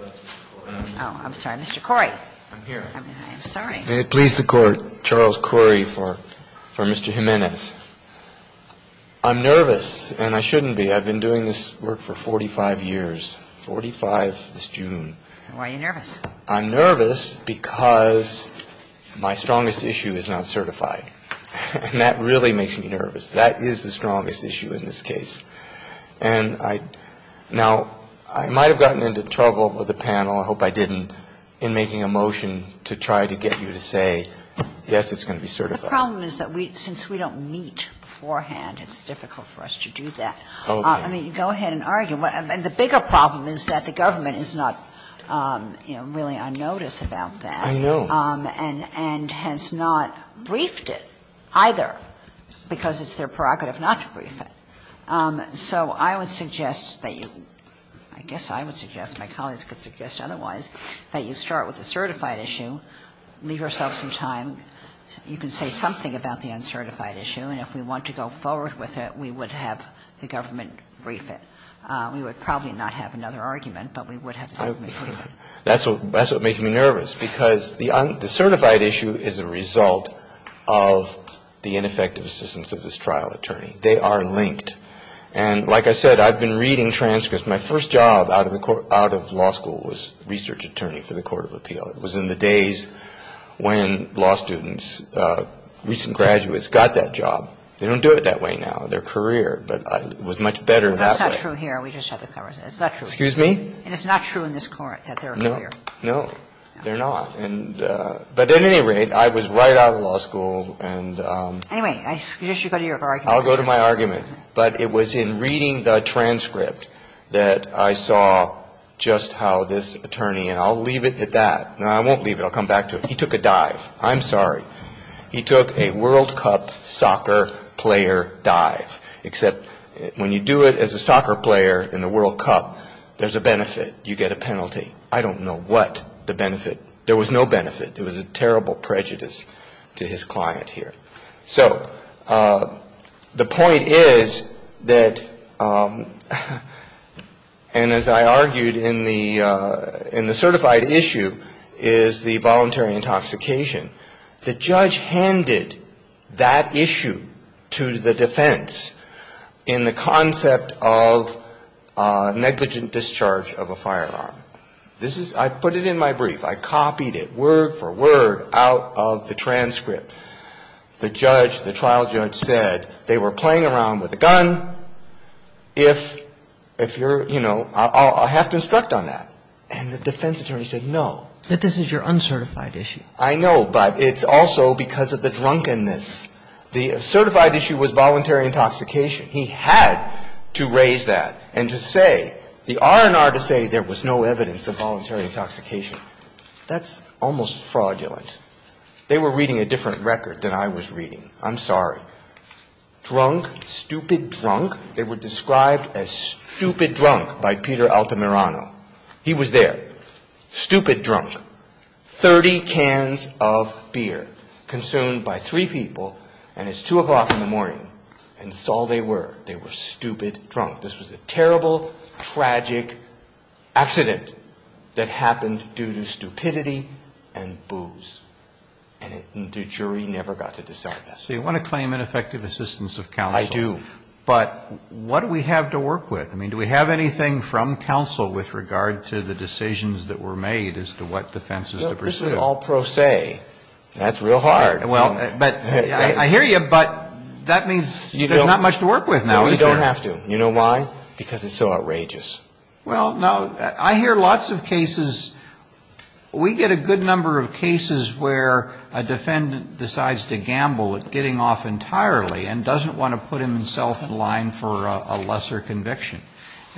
Oh, I'm sorry. Mr. Corey. I'm here. I'm sorry. May it please the Court, Charles Corey for Mr. Jimenez. I'm nervous, and I shouldn't be. I've been doing this work for 45 years, 45 this June. Why are you nervous? I'm nervous because my strongest issue is not certified. And that really makes me nervous. That is the strongest issue in this case. And I now I might have gotten into trouble with the panel, I hope I didn't, in making a motion to try to get you to say, yes, it's going to be certified. The problem is that since we don't meet beforehand, it's difficult for us to do that. I mean, go ahead and argue. And the bigger problem is that the government is not really on notice about that. I know. And has not briefed it either because it's their prerogative not to brief it. So I would suggest that you, I guess I would suggest, my colleagues could suggest otherwise, that you start with the certified issue, leave yourself some time. You can say something about the uncertified issue, and if we want to go forward with it, we would have the government brief it. We would probably not have another argument, but we would have the government brief it. That's what makes me nervous, because the certified issue is a result of the ineffective assistance of this trial attorney. They are linked. And like I said, I've been reading transcripts. My first job out of law school was research attorney for the Court of Appeal. It was in the days when law students, recent graduates, got that job. They don't do it that way now in their career, but it was much better that way. It's not true here. We just have to cover it. It's not true. Excuse me? And it's not true in this court that they're here. No. They're not. But at any rate, I was right out of law school. Anyway, I suggest you go to your argument. I'll go to my argument. But it was in reading the transcript that I saw just how this attorney, and I'll leave it at that. No, I won't leave it. I'll come back to it. He took a dive. I'm sorry. He took a World Cup soccer player dive, except when you do it as a soccer player in the World Cup, there's a benefit. You get a penalty. I don't know what the benefit. There was no benefit. It was a terrible prejudice to his client here. So the point is that, and as I argued in the certified issue, is the voluntary intoxication. The judge handed that issue to the defense in the concept of negligent discharge of a firearm. I put it in my brief. I copied it word for word out of the transcript. The judge, the trial judge said they were playing around with a gun. If you're, you know, I'll have to instruct on that. And the defense attorney said no. But this is your uncertified issue. I know, but it's also because of the drunkenness. The certified issue was voluntary intoxication. He had to raise that and to say, the R&R to say there was no evidence of voluntary intoxication. That's almost fraudulent. They were reading a different record than I was reading. I'm sorry. Drunk, stupid drunk. They were described as stupid drunk by Peter Altamirano. He was there. Stupid drunk. 30 cans of beer consumed by three people and it's 2 o'clock in the morning and that's all they were. They were stupid drunk. This was a terrible, tragic accident that happened due to stupidity and booze. And the jury never got to decide that. So you want to claim ineffective assistance of counsel. I do. But what do we have to work with? I mean, do we have anything from counsel with regard to the decisions that were made as to what defenses to pursue? This was all pro se. That's real hard. Well, but I hear you, but that means there's not much to work with now. We don't have to. You know why? Because it's so outrageous. Well, no. I hear lots of cases. We get a good number of cases where a defendant decides to gamble at getting off entirely and doesn't want to put himself in line for a lesser conviction.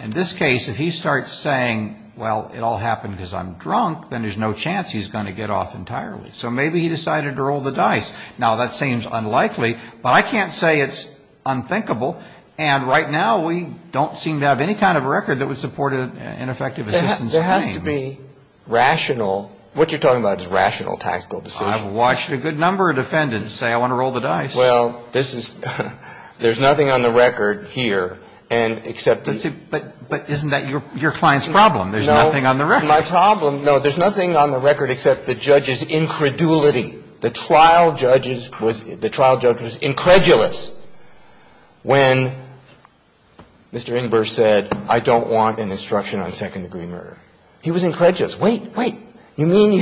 In this case, if he starts saying, well, it all happened because I'm drunk, then there's no chance he's going to get off entirely. So maybe he decided to roll the dice. Now, that seems unlikely, but I can't say it's unthinkable. And right now we don't seem to have any kind of record that would support an effective assistance claim. There has to be rational. What you're talking about is rational tactical decisions. I've watched a good number of defendants say, I want to roll the dice. Well, this is – there's nothing on the record here and except the – But isn't that your client's problem? There's nothing on the record. No, my problem – no, there's nothing on the record except the judge's incredulity. The trial judge's – the trial judge was incredulous when Mr. Ingber said, I don't want an instruction on second-degree murder. He was incredulous. Wait, wait. You mean,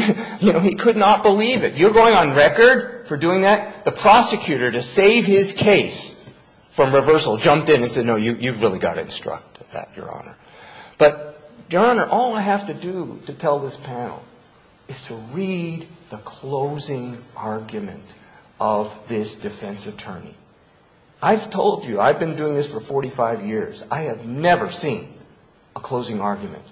you know, he could not believe it. You're going on record for doing that? The prosecutor, to save his case from reversal, jumped in and said, no, you've really got to instruct that, Your Honor. But, Your Honor, all I have to do to tell this panel is to read the closing argument of this defense attorney. I've told you, I've been doing this for 45 years. I have never seen a closing argument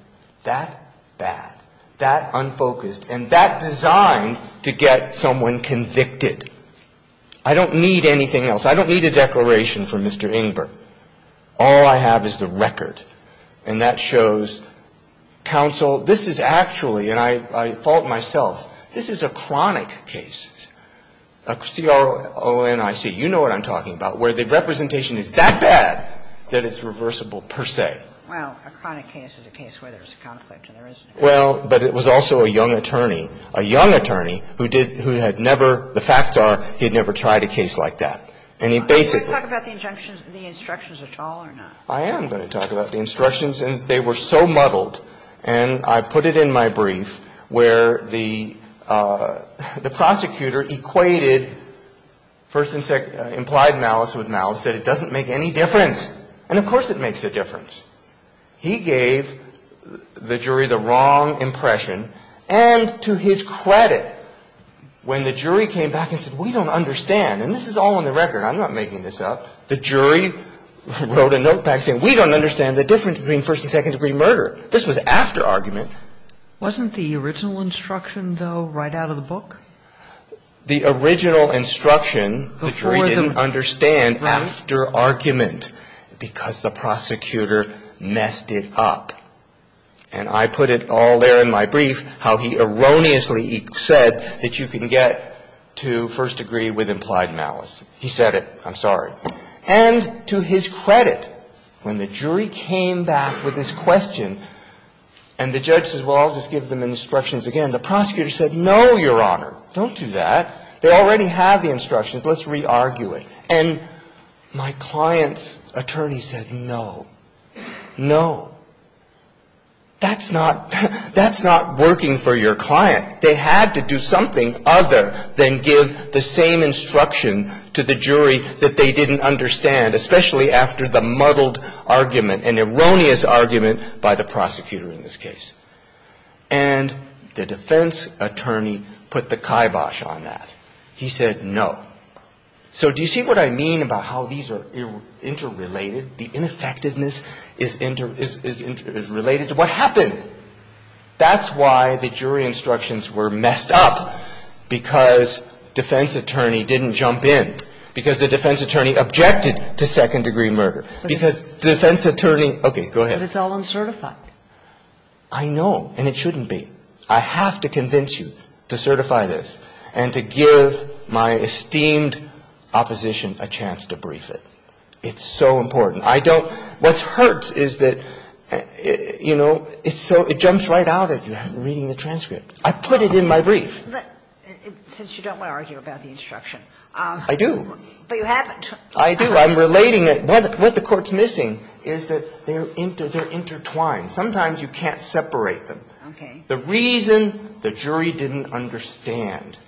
that bad, that unfocused, and that designed to get someone convicted. I don't need anything else. I don't need a declaration from Mr. Ingber. All I have is the record. And that shows counsel, this is actually – and I fault myself – this is a chronic case. A C-R-O-N-I-C. You know what I'm talking about, where the representation is that bad that it's reversible per se. Well, a chronic case is a case where there's a conflict and there isn't. Well, but it was also a young attorney, a young attorney, who did – who had never – the facts are, he had never tried a case like that. And he basically – Are you going to talk about the injunctions – the instructions at all or not? I am going to talk about the instructions. And they were so muddled, and I put it in my brief, where the prosecutor equated first and second – implied malice with malice, said it doesn't make any difference. And of course it makes a difference. He gave the jury the wrong impression. And to his credit, when the jury came back and said, we don't understand – and this is all in the record. I'm not making this up. The jury wrote a note back saying, we don't understand the difference between first and second degree murder. This was after argument. Wasn't the original instruction, though, right out of the book? The original instruction, the jury didn't understand after argument because the prosecutor messed it up. And I put it all there in my brief how he erroneously said that you can get to first degree with implied malice. He said it. I'm sorry. And to his credit, when the jury came back with this question and the judge says, well, I'll just give them instructions again. And the prosecutor said, no, Your Honor, don't do that. They already have the instructions. Let's re-argue it. And my client's attorney said, no, no. That's not – that's not working for your client. They had to do something other than give the same instruction to the jury that they didn't understand, especially after the muddled argument, an erroneous argument by the prosecutor in this case. And the defense attorney put the kibosh on that. He said no. So do you see what I mean about how these are interrelated? The ineffectiveness is interrelated to what happened. That's why the jury instructions were messed up, because defense attorney didn't jump in, because the defense attorney objected to second degree murder. Because defense attorney – okay, go ahead. But it's all uncertified. I know, and it shouldn't be. I have to convince you to certify this and to give my esteemed opposition a chance to brief it. It's so important. I don't – what hurts is that, you know, it's so – it jumps right out at you reading the transcript. I put it in my brief. Since you don't want to argue about the instruction. I do. But you haven't. I do. I'm relating it. What the court's missing is that they're intertwined. Sometimes you can't separate them. Okay. The reason the jury didn't understand,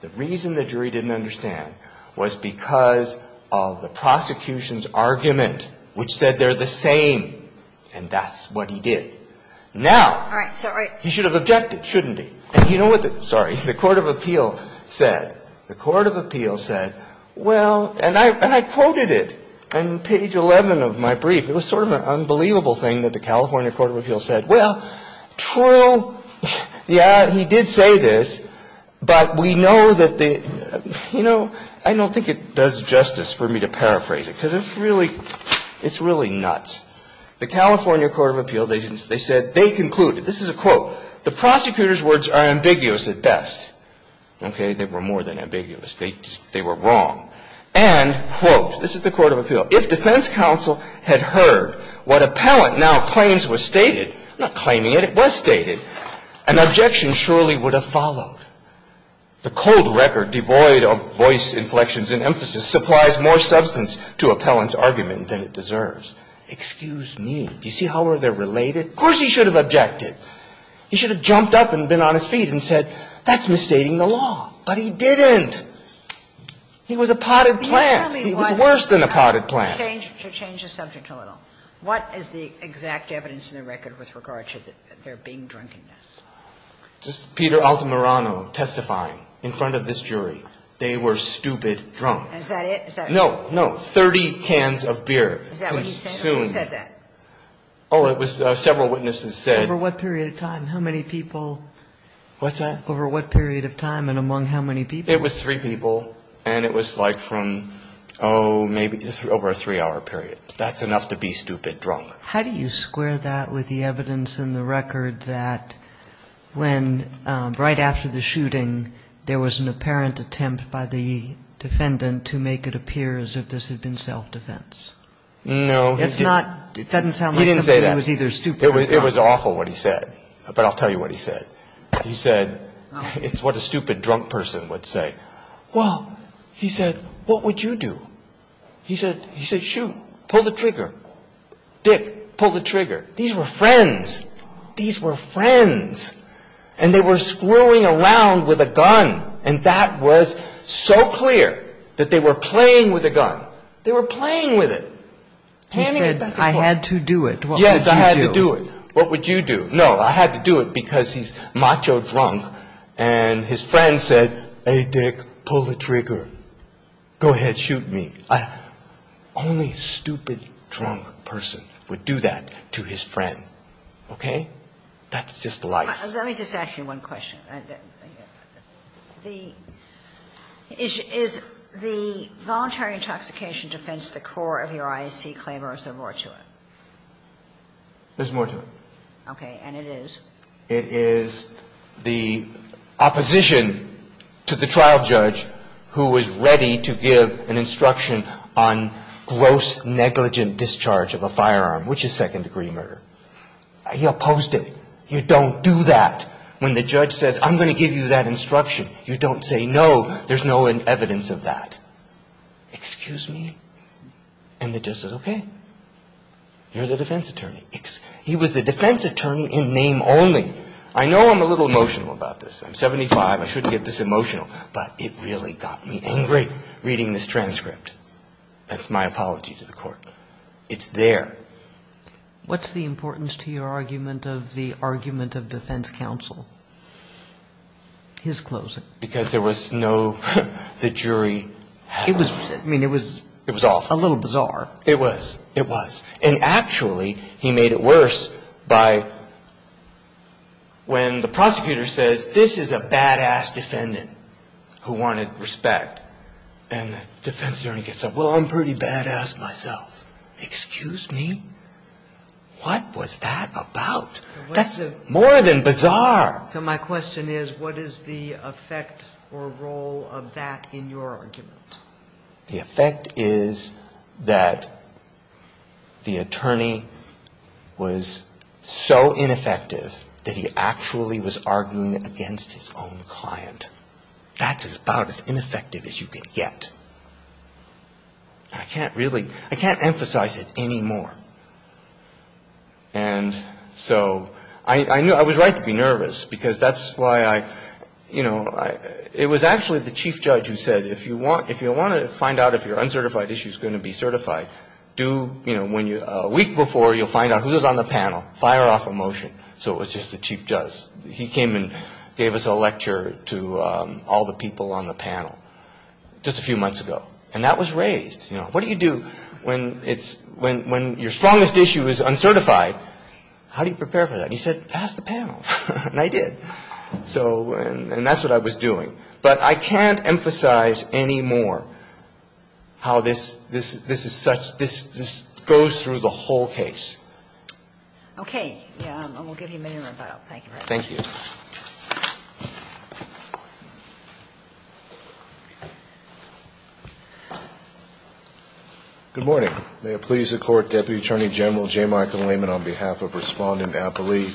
the reason the jury didn't understand was because of the prosecution's argument, which said they're the same, and that's what he did. Now. All right. Sorry. He should have objected, shouldn't he? And you know what the – sorry. The Court of Appeal said – the Court of Appeal said, well – and I quoted it on page 11 of my brief. It was sort of an unbelievable thing that the California Court of Appeal said, well, true, yeah, he did say this, but we know that the – you know, I don't think it does justice for me to paraphrase it, because it's really – it's really nuts. The California Court of Appeal, they said they concluded – this is a quote – the prosecutor's words are ambiguous at best. Okay. They were more than ambiguous. They were wrong. And, quote – this is the Court of Appeal – if defense counsel had heard what appellant now claims was stated – not claiming it, it was stated – an objection surely would have followed. The cold record devoid of voice inflections and emphasis supplies more substance to appellant's argument than it deserves. Excuse me. Do you see how they're related? Of course he should have objected. He should have jumped up and been on his feet and said, that's misstating the law. But he didn't. He was a potted plant. He was worse than a potted plant. Can you tell me what – to change the subject a little. What is the exact evidence in the record with regard to their being drunkenness? This is Peter Altamirano testifying in front of this jury. They were stupid drunk. Is that it? No, no. Thirty cans of beer consumed. Is that what he said? Who said that? Oh, it was several witnesses said. Over what period of time? How many people? What's that? Over what period of time and among how many people? It was three people. And it was like from, oh, maybe over a three-hour period. That's enough to be stupid drunk. How do you square that with the evidence in the record that when right after the shooting there was an apparent attempt by the defendant to make it appear as if this had been self-defense? No. It's not – it doesn't sound like somebody was either stupid or drunk. It was awful what he said, but I'll tell you what he said. He said – it's what a stupid drunk person would say. Well, he said, what would you do? He said, shoot, pull the trigger. Dick, pull the trigger. These were friends. These were friends. And they were screwing around with a gun. And that was so clear that they were playing with a gun. They were playing with it. He said, I had to do it. Yes, I had to do it. What would you do? No, I had to do it because he's macho drunk and his friend said, hey, Dick, pull the trigger. Go ahead, shoot me. Only stupid drunk person would do that to his friend. Okay? That's just life. Let me just ask you one question. The – is the voluntary intoxication defense the core of your IAC claim or is there more to it? There's more to it. Okay. And it is? It is the opposition to the trial judge who was ready to give an instruction on gross negligent discharge of a firearm, which is second-degree murder. He opposed it. You don't do that. When the judge says, I'm going to give you that instruction, you don't say no. There's no evidence of that. Excuse me? And the judge said, okay. You're the defense attorney. He was the defense attorney in name only. I know I'm a little emotional about this. I'm 75. I shouldn't get this emotional. But it really got me angry reading this transcript. That's my apology to the Court. It's there. What's the importance to your argument of the argument of defense counsel? His closing. Because there was no – the jury had – It was awful. It was a little bizarre. It was. It was. And actually, he made it worse by when the prosecutor says, this is a bad-ass defendant who wanted respect. And the defense attorney gets up. Well, I'm pretty bad-ass myself. Excuse me? What was that about? That's more than bizarre. So my question is, what is the effect or role of that in your argument? The effect is that the attorney was so ineffective that he actually was arguing against his own client. That's about as ineffective as you can get. I can't really – I can't emphasize it anymore. And so I was right to be nervous because that's why I – it was actually the chief judge who said, if you want to find out if your uncertified issue is going to be certified, do – a week before, you'll find out who's on the panel. Fire off a motion. So it was just the chief judge. He came and gave us a lecture to all the people on the panel just a few months ago. And that was raised. You know, what do you do when it's – when your strongest issue is uncertified? How do you prepare for that? And he said, pass the panel. And I did. So – and that's what I was doing. But I can't emphasize anymore how this – this is such – this goes through the whole case. Okay. Yeah. And we'll give you a minute to revile. Thank you very much. Thank you. Thank you. Good morning. May it please the Court, Deputy Attorney General J. Michael Lehman on behalf of Respondent Appley,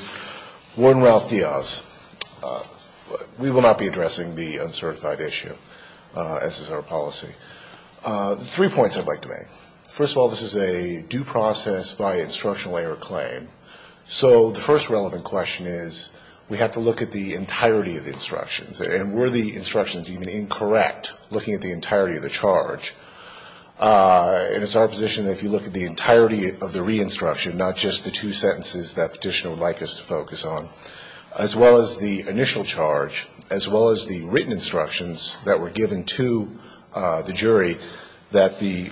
Warden Ralph Diaz. We will not be addressing the uncertified issue, as is our policy. Three points I'd like to make. First of all, this is a due process via instructional error claim. So the first relevant question is we have to look at the entirety of the instructions. And were the instructions even incorrect, looking at the entirety of the charge? And it's our position that if you look at the entirety of the re-instruction, not just the two sentences that Petitioner would like us to focus on, as well as the initial charge, as well as the written instructions that were given to the jury, that the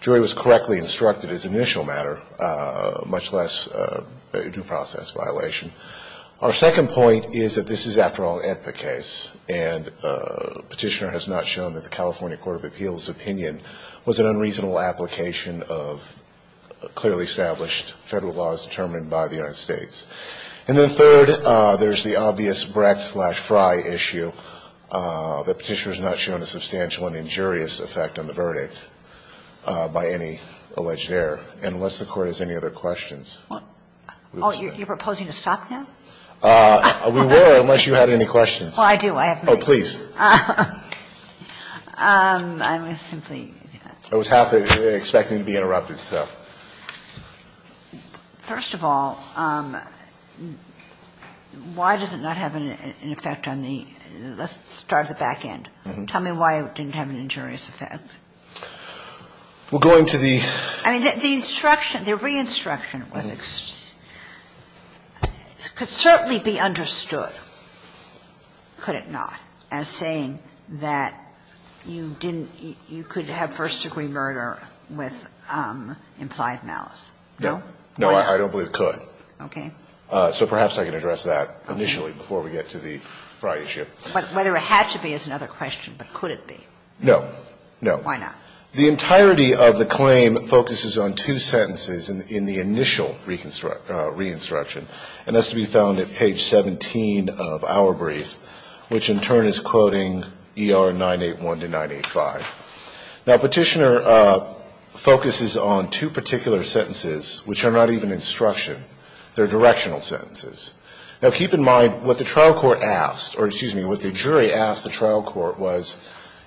jury was correctly instructed as initial matter, much less a due process violation. Our second point is that this is, after all, an AEDPA case, and Petitioner has not shown that the California Court of Appeals' opinion was an unreasonable application of clearly established Federal laws determined by the United States. And then third, there's the obvious BRAC-slash-FRI issue that Petitioner has not shown a substantial and injurious effect on the verdict by any alleged error. And unless the Court has any other questions. Kagan. Oh, you're proposing to stop now? We will, unless you have any questions. Well, I do. I have many. Oh, please. I was simply. I was half expecting to be interrupted, so. First of all, why does it not have an effect on the start of the back end? Tell me why it didn't have an injurious effect. We're going to the. I mean, the instruction, the re-instruction was, could certainly be understood, could it not, as saying that you didn't, you could have first-degree murder with implied malice. No? No, I don't believe it could. Okay. So perhaps I can address that initially before we get to the FRI issue. Whether it had to be is another question, but could it be? No, no. Why not? The entirety of the claim focuses on two sentences in the initial re-instruction, and that's to be found at page 17 of our brief, which in turn is quoting ER 981 to 985. Now, Petitioner focuses on two particular sentences which are not even instruction. They're directional sentences. Now, keep in mind what the trial court asked, or excuse me, what the jury asked the trial court was,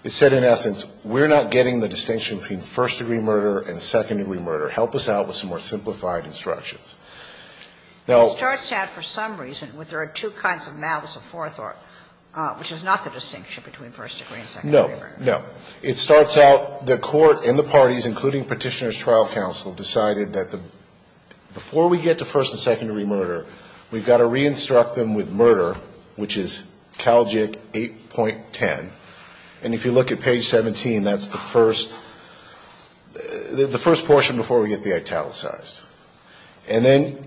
it said in essence, we're not getting the distinction between first-degree murder and second-degree murder. Help us out with some more simplified instructions. Now ---- It starts out for some reason with there are two kinds of malice aforethought, which is not the distinction between first-degree and second-degree murder. No, no. It starts out the court and the parties, including Petitioner's trial counsel, decided that before we get to first- and second-degree murder, we've got to re-instruct them with murder, which is Calgic 8.10. And if you look at page 17, that's the first portion before we get the italicized. And then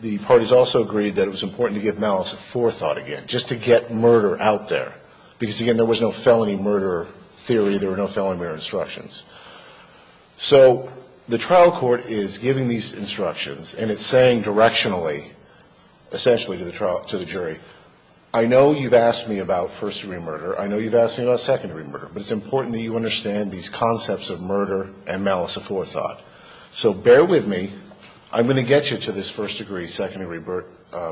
the parties also agreed that it was important to give malice aforethought again, just to get murder out there, because, again, there was no felony murder theory. There were no felony murder instructions. So the trial court is giving these instructions, and it's saying directionally, essentially, to the jury, I know you've asked me about first-degree murder. I know you've asked me about second-degree murder. But it's important that you understand these concepts of murder and malice aforethought. So bear with me. I'm going to get you to this first-degree, second-degree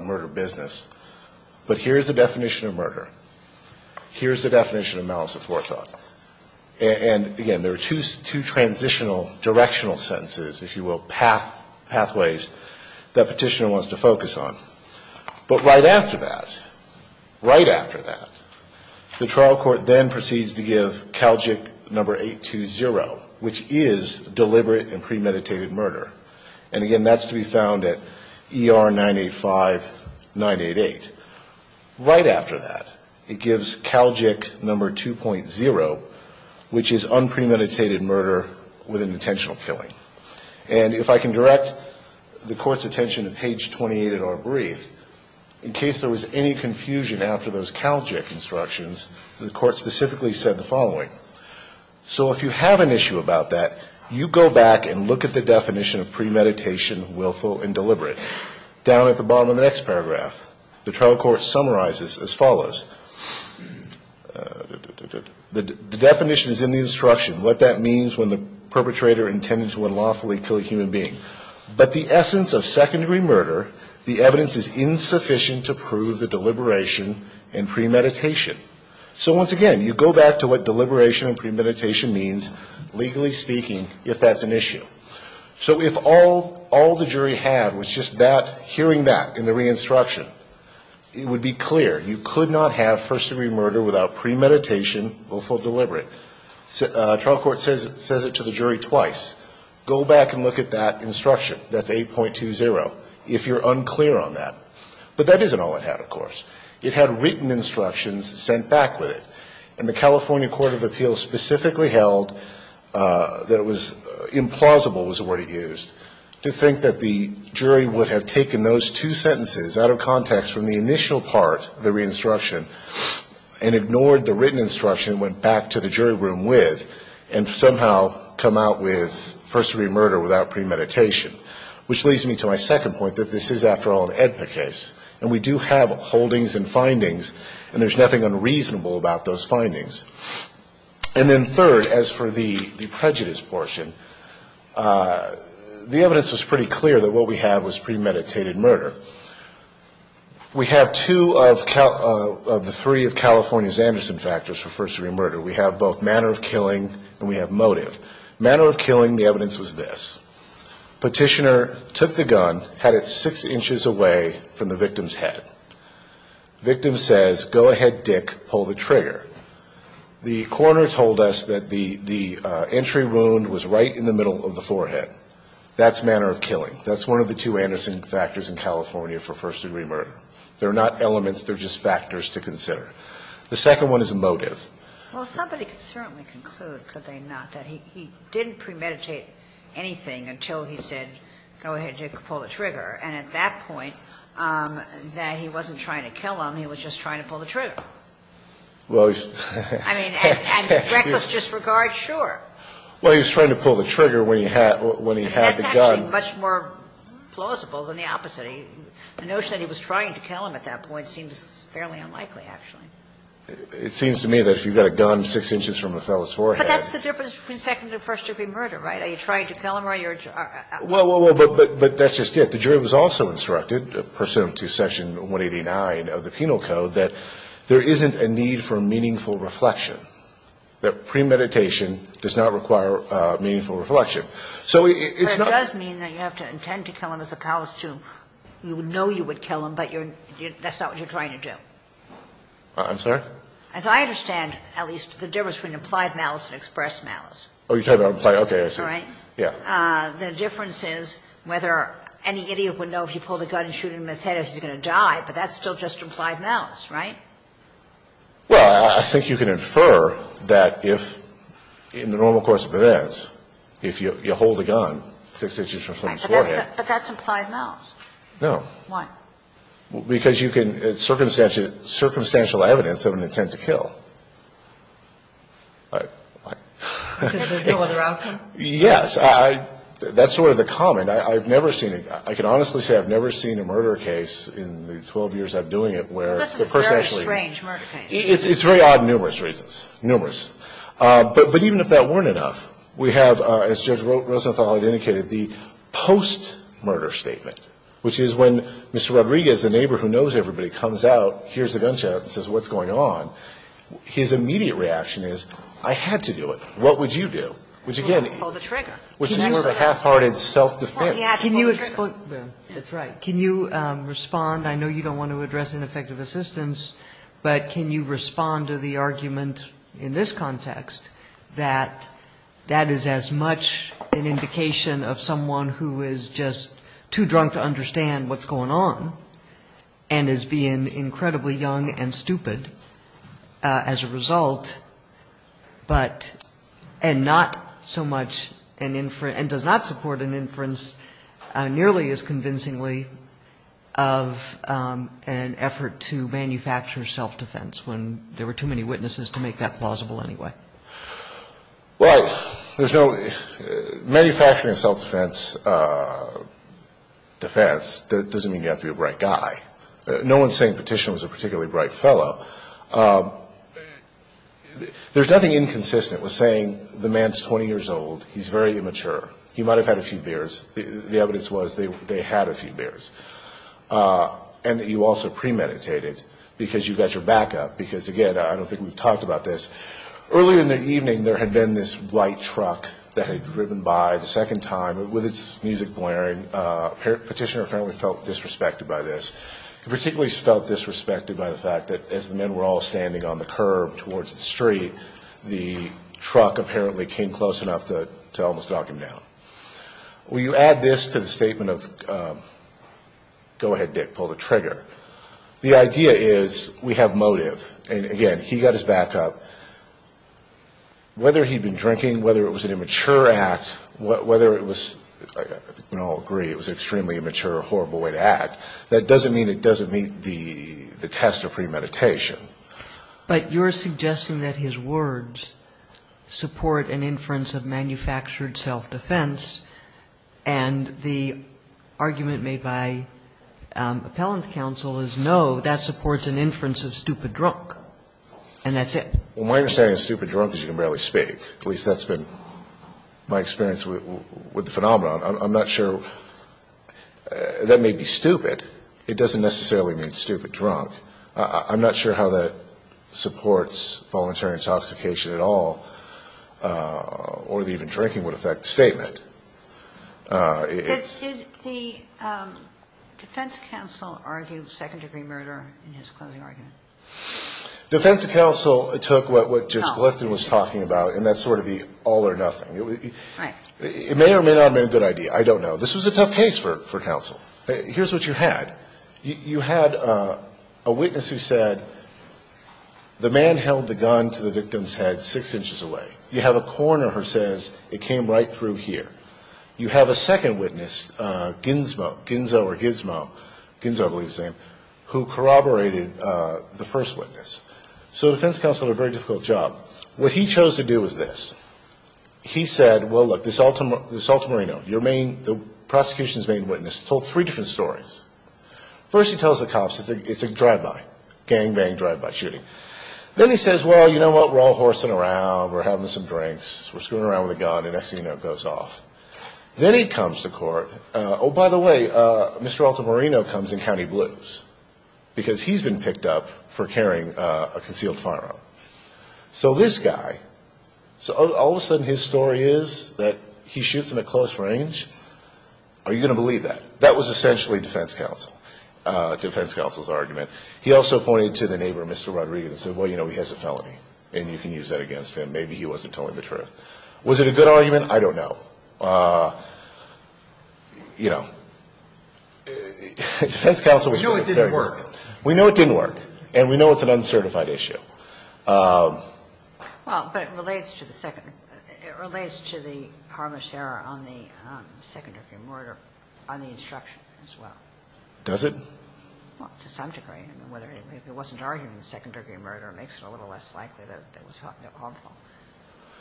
murder business. But here's the definition of murder. Here's the definition of malice aforethought. And, again, there are two transitional directional sentences, if you will, pathways that Petitioner wants to focus on. But right after that, right after that, the trial court then proceeds to give Calgic number 820, which is deliberate and premeditated murder. And, again, that's to be found at ER 985-988. Right after that, it gives Calgic number 2.0, which is unpremeditated murder with an intentional killing. And if I can direct the Court's attention to page 28 in our brief, in case there was any confusion after those Calgic instructions, the Court specifically said the following. So if you have an issue about that, you go back and look at the definition of premeditation, willful, and deliberate. Down at the bottom of the next paragraph, the trial court summarizes as follows. The definition is in the instruction, what that means when the perpetrator intended to unlawfully kill a human being. But the essence of second-degree murder, the evidence is insufficient to prove the deliberation and premeditation. So, once again, you go back to what deliberation and premeditation means, legally speaking, if that's an issue. So if all the jury had was just that, hearing that in the re-instruction, it would be clear. You could not have first-degree murder without premeditation, willful, deliberate. The trial court says it to the jury twice. Go back and look at that instruction. That's 8.20, if you're unclear on that. But that isn't all it had, of course. It had written instructions sent back with it. And the California Court of Appeals specifically held that it was implausible was the word it used, to think that the jury would have taken those two sentences out of context from the initial part of the re-instruction and ignored the written instruction and went back to the jury room with, and somehow come out with first- degree murder without premeditation. Which leads me to my second point, that this is, after all, an AEDPA case. And we do have holdings and findings, and there's nothing unreasonable about those findings. And then third, as for the prejudice portion, the evidence was pretty clear that what we have was premeditated murder. We have two of the three of California's Anderson factors for first-degree murder. We have both manner of killing and we have motive. Manner of killing, the evidence was this. Petitioner took the gun, had it six inches away from the victim's head. Victim says, go ahead, Dick, pull the trigger. The coroner told us that the entry wound was right in the middle of the forehead. That's manner of killing. That's one of the two Anderson factors in California for first-degree murder. They're not elements, they're just factors to consider. The second one is a motive. Well, somebody could certainly conclude, could they not, that he didn't premeditate anything until he said, go ahead, Dick, pull the trigger. And at that point, that he wasn't trying to kill him, he was just trying to pull the trigger. I mean, reckless disregard, sure. Well, he was trying to pull the trigger when he had the gun. That's actually much more plausible than the opposite. The notion that he was trying to kill him at that point seems fairly unlikely, actually. It seems to me that if you've got a gun six inches from a fellow's forehead. But that's the difference between second- and first-degree murder, right? Are you trying to kill him or are you? Well, but that's just it. The jury was also instructed, pursuant to Section 189 of the Penal Code, that there isn't a need for meaningful reflection, that premeditation does not require meaningful reflection. So it's not. But it does mean that you have to intend to kill him as opposed to you know you would kill him, but that's not what you're trying to do. I'm sorry? As I understand, at least, the difference between implied malice and expressed malice. Oh, you're talking about implied, okay, I see. Right? Yeah. The difference is whether any idiot would know if you pull the gun and shoot him in the head if he's going to die, but that's still just implied malice, right? Well, I think you can infer that if, in the normal course of events, if you hold a gun six inches from someone's forehead. But that's implied malice. No. Why? Because you can, it's circumstantial evidence of an intent to kill. Because there's no other outcome? Yes. That's sort of the comment. I've never seen it. I can honestly say I've never seen a murder case in the 12 years I've been doing it where the person actually. This is a very strange murder case. It's very odd in numerous reasons, numerous. But even if that weren't enough, we have, as Judge Rosenthal had indicated, the post-murder statement, which is when Mr. Rodriguez, the neighbor who knows everybody, comes out, hears the gunshot and says what's going on, his immediate reaction is I had to do it. What would you do? Which, again. Pull the trigger. Which is sort of a half-hearted self-defense. Can you respond? That's right. Can you respond? I know you don't want to address ineffective assistance, but can you respond to the argument in this context that that is as much an indication of someone who is just too drunk to understand what's going on and is being incredibly young and stupid as a result, but, and not so much an inference, and does not support an inference nearly as convincingly of an effort to manufacture self-defense when there were too many witnesses to make that plausible anyway? Well, there's no – manufacturing self-defense doesn't mean you have to be a bright guy. No one's saying Petitioner was a particularly bright fellow. There's nothing inconsistent with saying the man's 20 years old. He's very immature. He might have had a few beers. The evidence was they had a few beers. And that you also premeditated because you got your backup because, again, I don't think we've talked about this. Earlier in the evening there had been this white truck that had driven by the second time with its music blaring. Petitioner apparently felt disrespected by this. He particularly felt disrespected by the fact that as the men were all standing on the curb towards the street, the truck apparently came close enough to almost knock him down. When you add this to the statement of, go ahead, Dick, pull the trigger, the idea is we have motive. And, again, he got his backup. Whether he'd been drinking, whether it was an immature act, whether it was – I think we can all agree it was an extremely immature, horrible way to act. That doesn't mean it doesn't meet the test of premeditation. But you're suggesting that his words support an inference of manufactured self-defense, and the argument made by Appellant's counsel is, no, that supports an inference of stupid drunk, and that's it. Well, my understanding of stupid drunk is you can barely speak. At least that's been my experience with the phenomenon. I'm not sure – that may be stupid. It doesn't necessarily mean stupid drunk. I'm not sure how that supports voluntary intoxication at all, or that even drinking would affect the statement. But did the defense counsel argue second-degree murder in his closing argument? The defense counsel took what Judge Glifton was talking about, and that's sort of the all or nothing. Right. It may or may not have been a good idea. I don't know. This was a tough case for counsel. Here's what you had. You had a witness who said the man held the gun to the victim's head six inches away. You have a coroner who says it came right through here. You have a second witness, Ginzmo, Ginzo or Gizmo, Ginzo I believe is his name, who corroborated the first witness. So the defense counsel did a very difficult job. What he chose to do was this. He said, well, look, this Altamirino, the prosecution's main witness, told three different stories. First he tells the cops it's a drive-by, gangbang drive-by shooting. Then he says, well, you know what, we're all horsing around. We're having some drinks. We're screwing around with a gun. The next thing you know it goes off. Then he comes to court. Oh, by the way, Mr. Altamirino comes in county blues because he's been picked up for carrying a concealed firearm. So this guy, all of a sudden his story is that he shoots in a close range. Are you going to believe that? That was essentially defense counsel's argument. He also pointed to the neighbor, Mr. Rodriguez, and said, well, you know, he has a felony, and you can use that against him. Maybe he wasn't telling the truth. Was it a good argument? I don't know. You know, defense counsel was very good. We know it didn't work, and we know it's an uncertified issue. Well, but it relates to the second. It relates to the harmless error on the second degree murder on the instruction as well. Does it? Well, to some degree. I mean, if it wasn't arguing the second degree murder, it makes it a little less likely that it was harmful.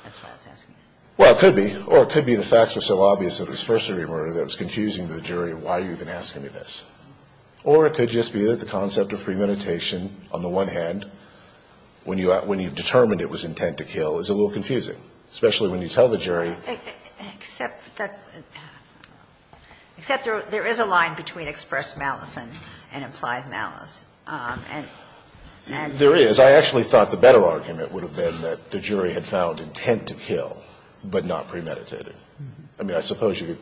That's why I was asking you. Well, it could be. Or it could be the facts were so obvious that it was first degree murder that it was confusing to the jury why you've been asking me this. Or it could just be that the concept of premeditation, on the one hand, when you determined it was intent to kill, is a little confusing, especially when you tell the jury. Except that there is a line between express malice and implied malice. There is. I actually thought the better argument would have been that the jury had found intent to kill, but not premeditated. I mean, I suppose you could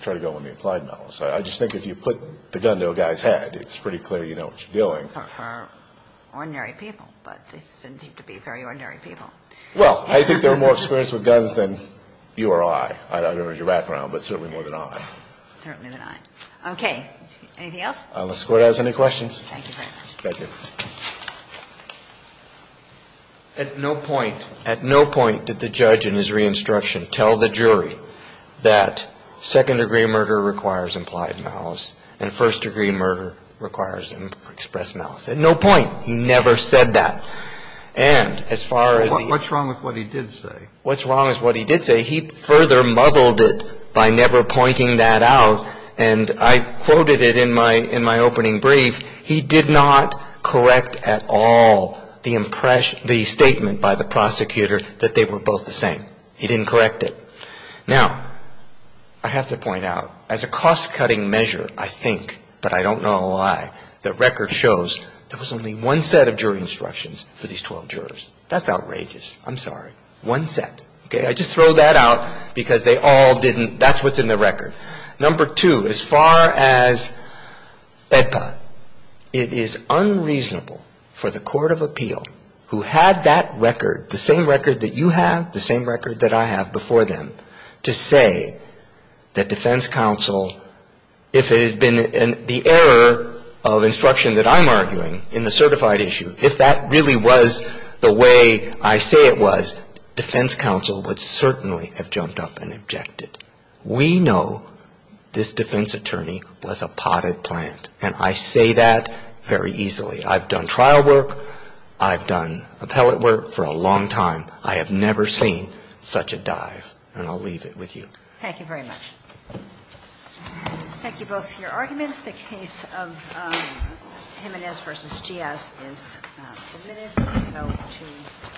try to go with the implied malice. I just think if you put the gun to a guy's head, it's pretty clear you know what you're doing. For ordinary people, but they didn't seem to be very ordinary people. Well, I think they were more experienced with guns than you or I. I don't know your background, but certainly more than I. Certainly than I. Okay. Anything else? Unless the Court has any questions. Thank you very much. Thank you. At no point, at no point did the judge in his re-instruction tell the jury that second degree murder requires implied malice and first degree murder requires express malice. At no point he never said that. And as far as the ---- What's wrong with what he did say? What's wrong with what he did say? He further muddled it by never pointing that out. And I quoted it in my opening brief. He did not correct at all the impression, the statement by the prosecutor that they were both the same. He didn't correct it. Now, I have to point out, as a cost-cutting measure, I think, but I don't know why, the record shows there was only one set of jury instructions for these 12 jurors. That's outrageous. I'm sorry. One set. Okay. I just throw that out because they all didn't. That's what's in the record. Number two, as far as EPA, it is unreasonable for the Court of Appeal, who had that record, the same record that you have, the same record that I have before them, to say that defense counsel, if it had been the error of instruction that I'm arguing in the certified issue, if that really was the way I say it was, defense counsel would certainly have jumped up and objected. We know this defense attorney was a potted plant. And I say that very easily. I've done trial work. I've done appellate work for a long time. I have never seen such a dive. And I'll leave it with you. Thank you very much. Thank you both for your arguments. The case of Jimenez v. Giaz is submitted. We'll go to the floor.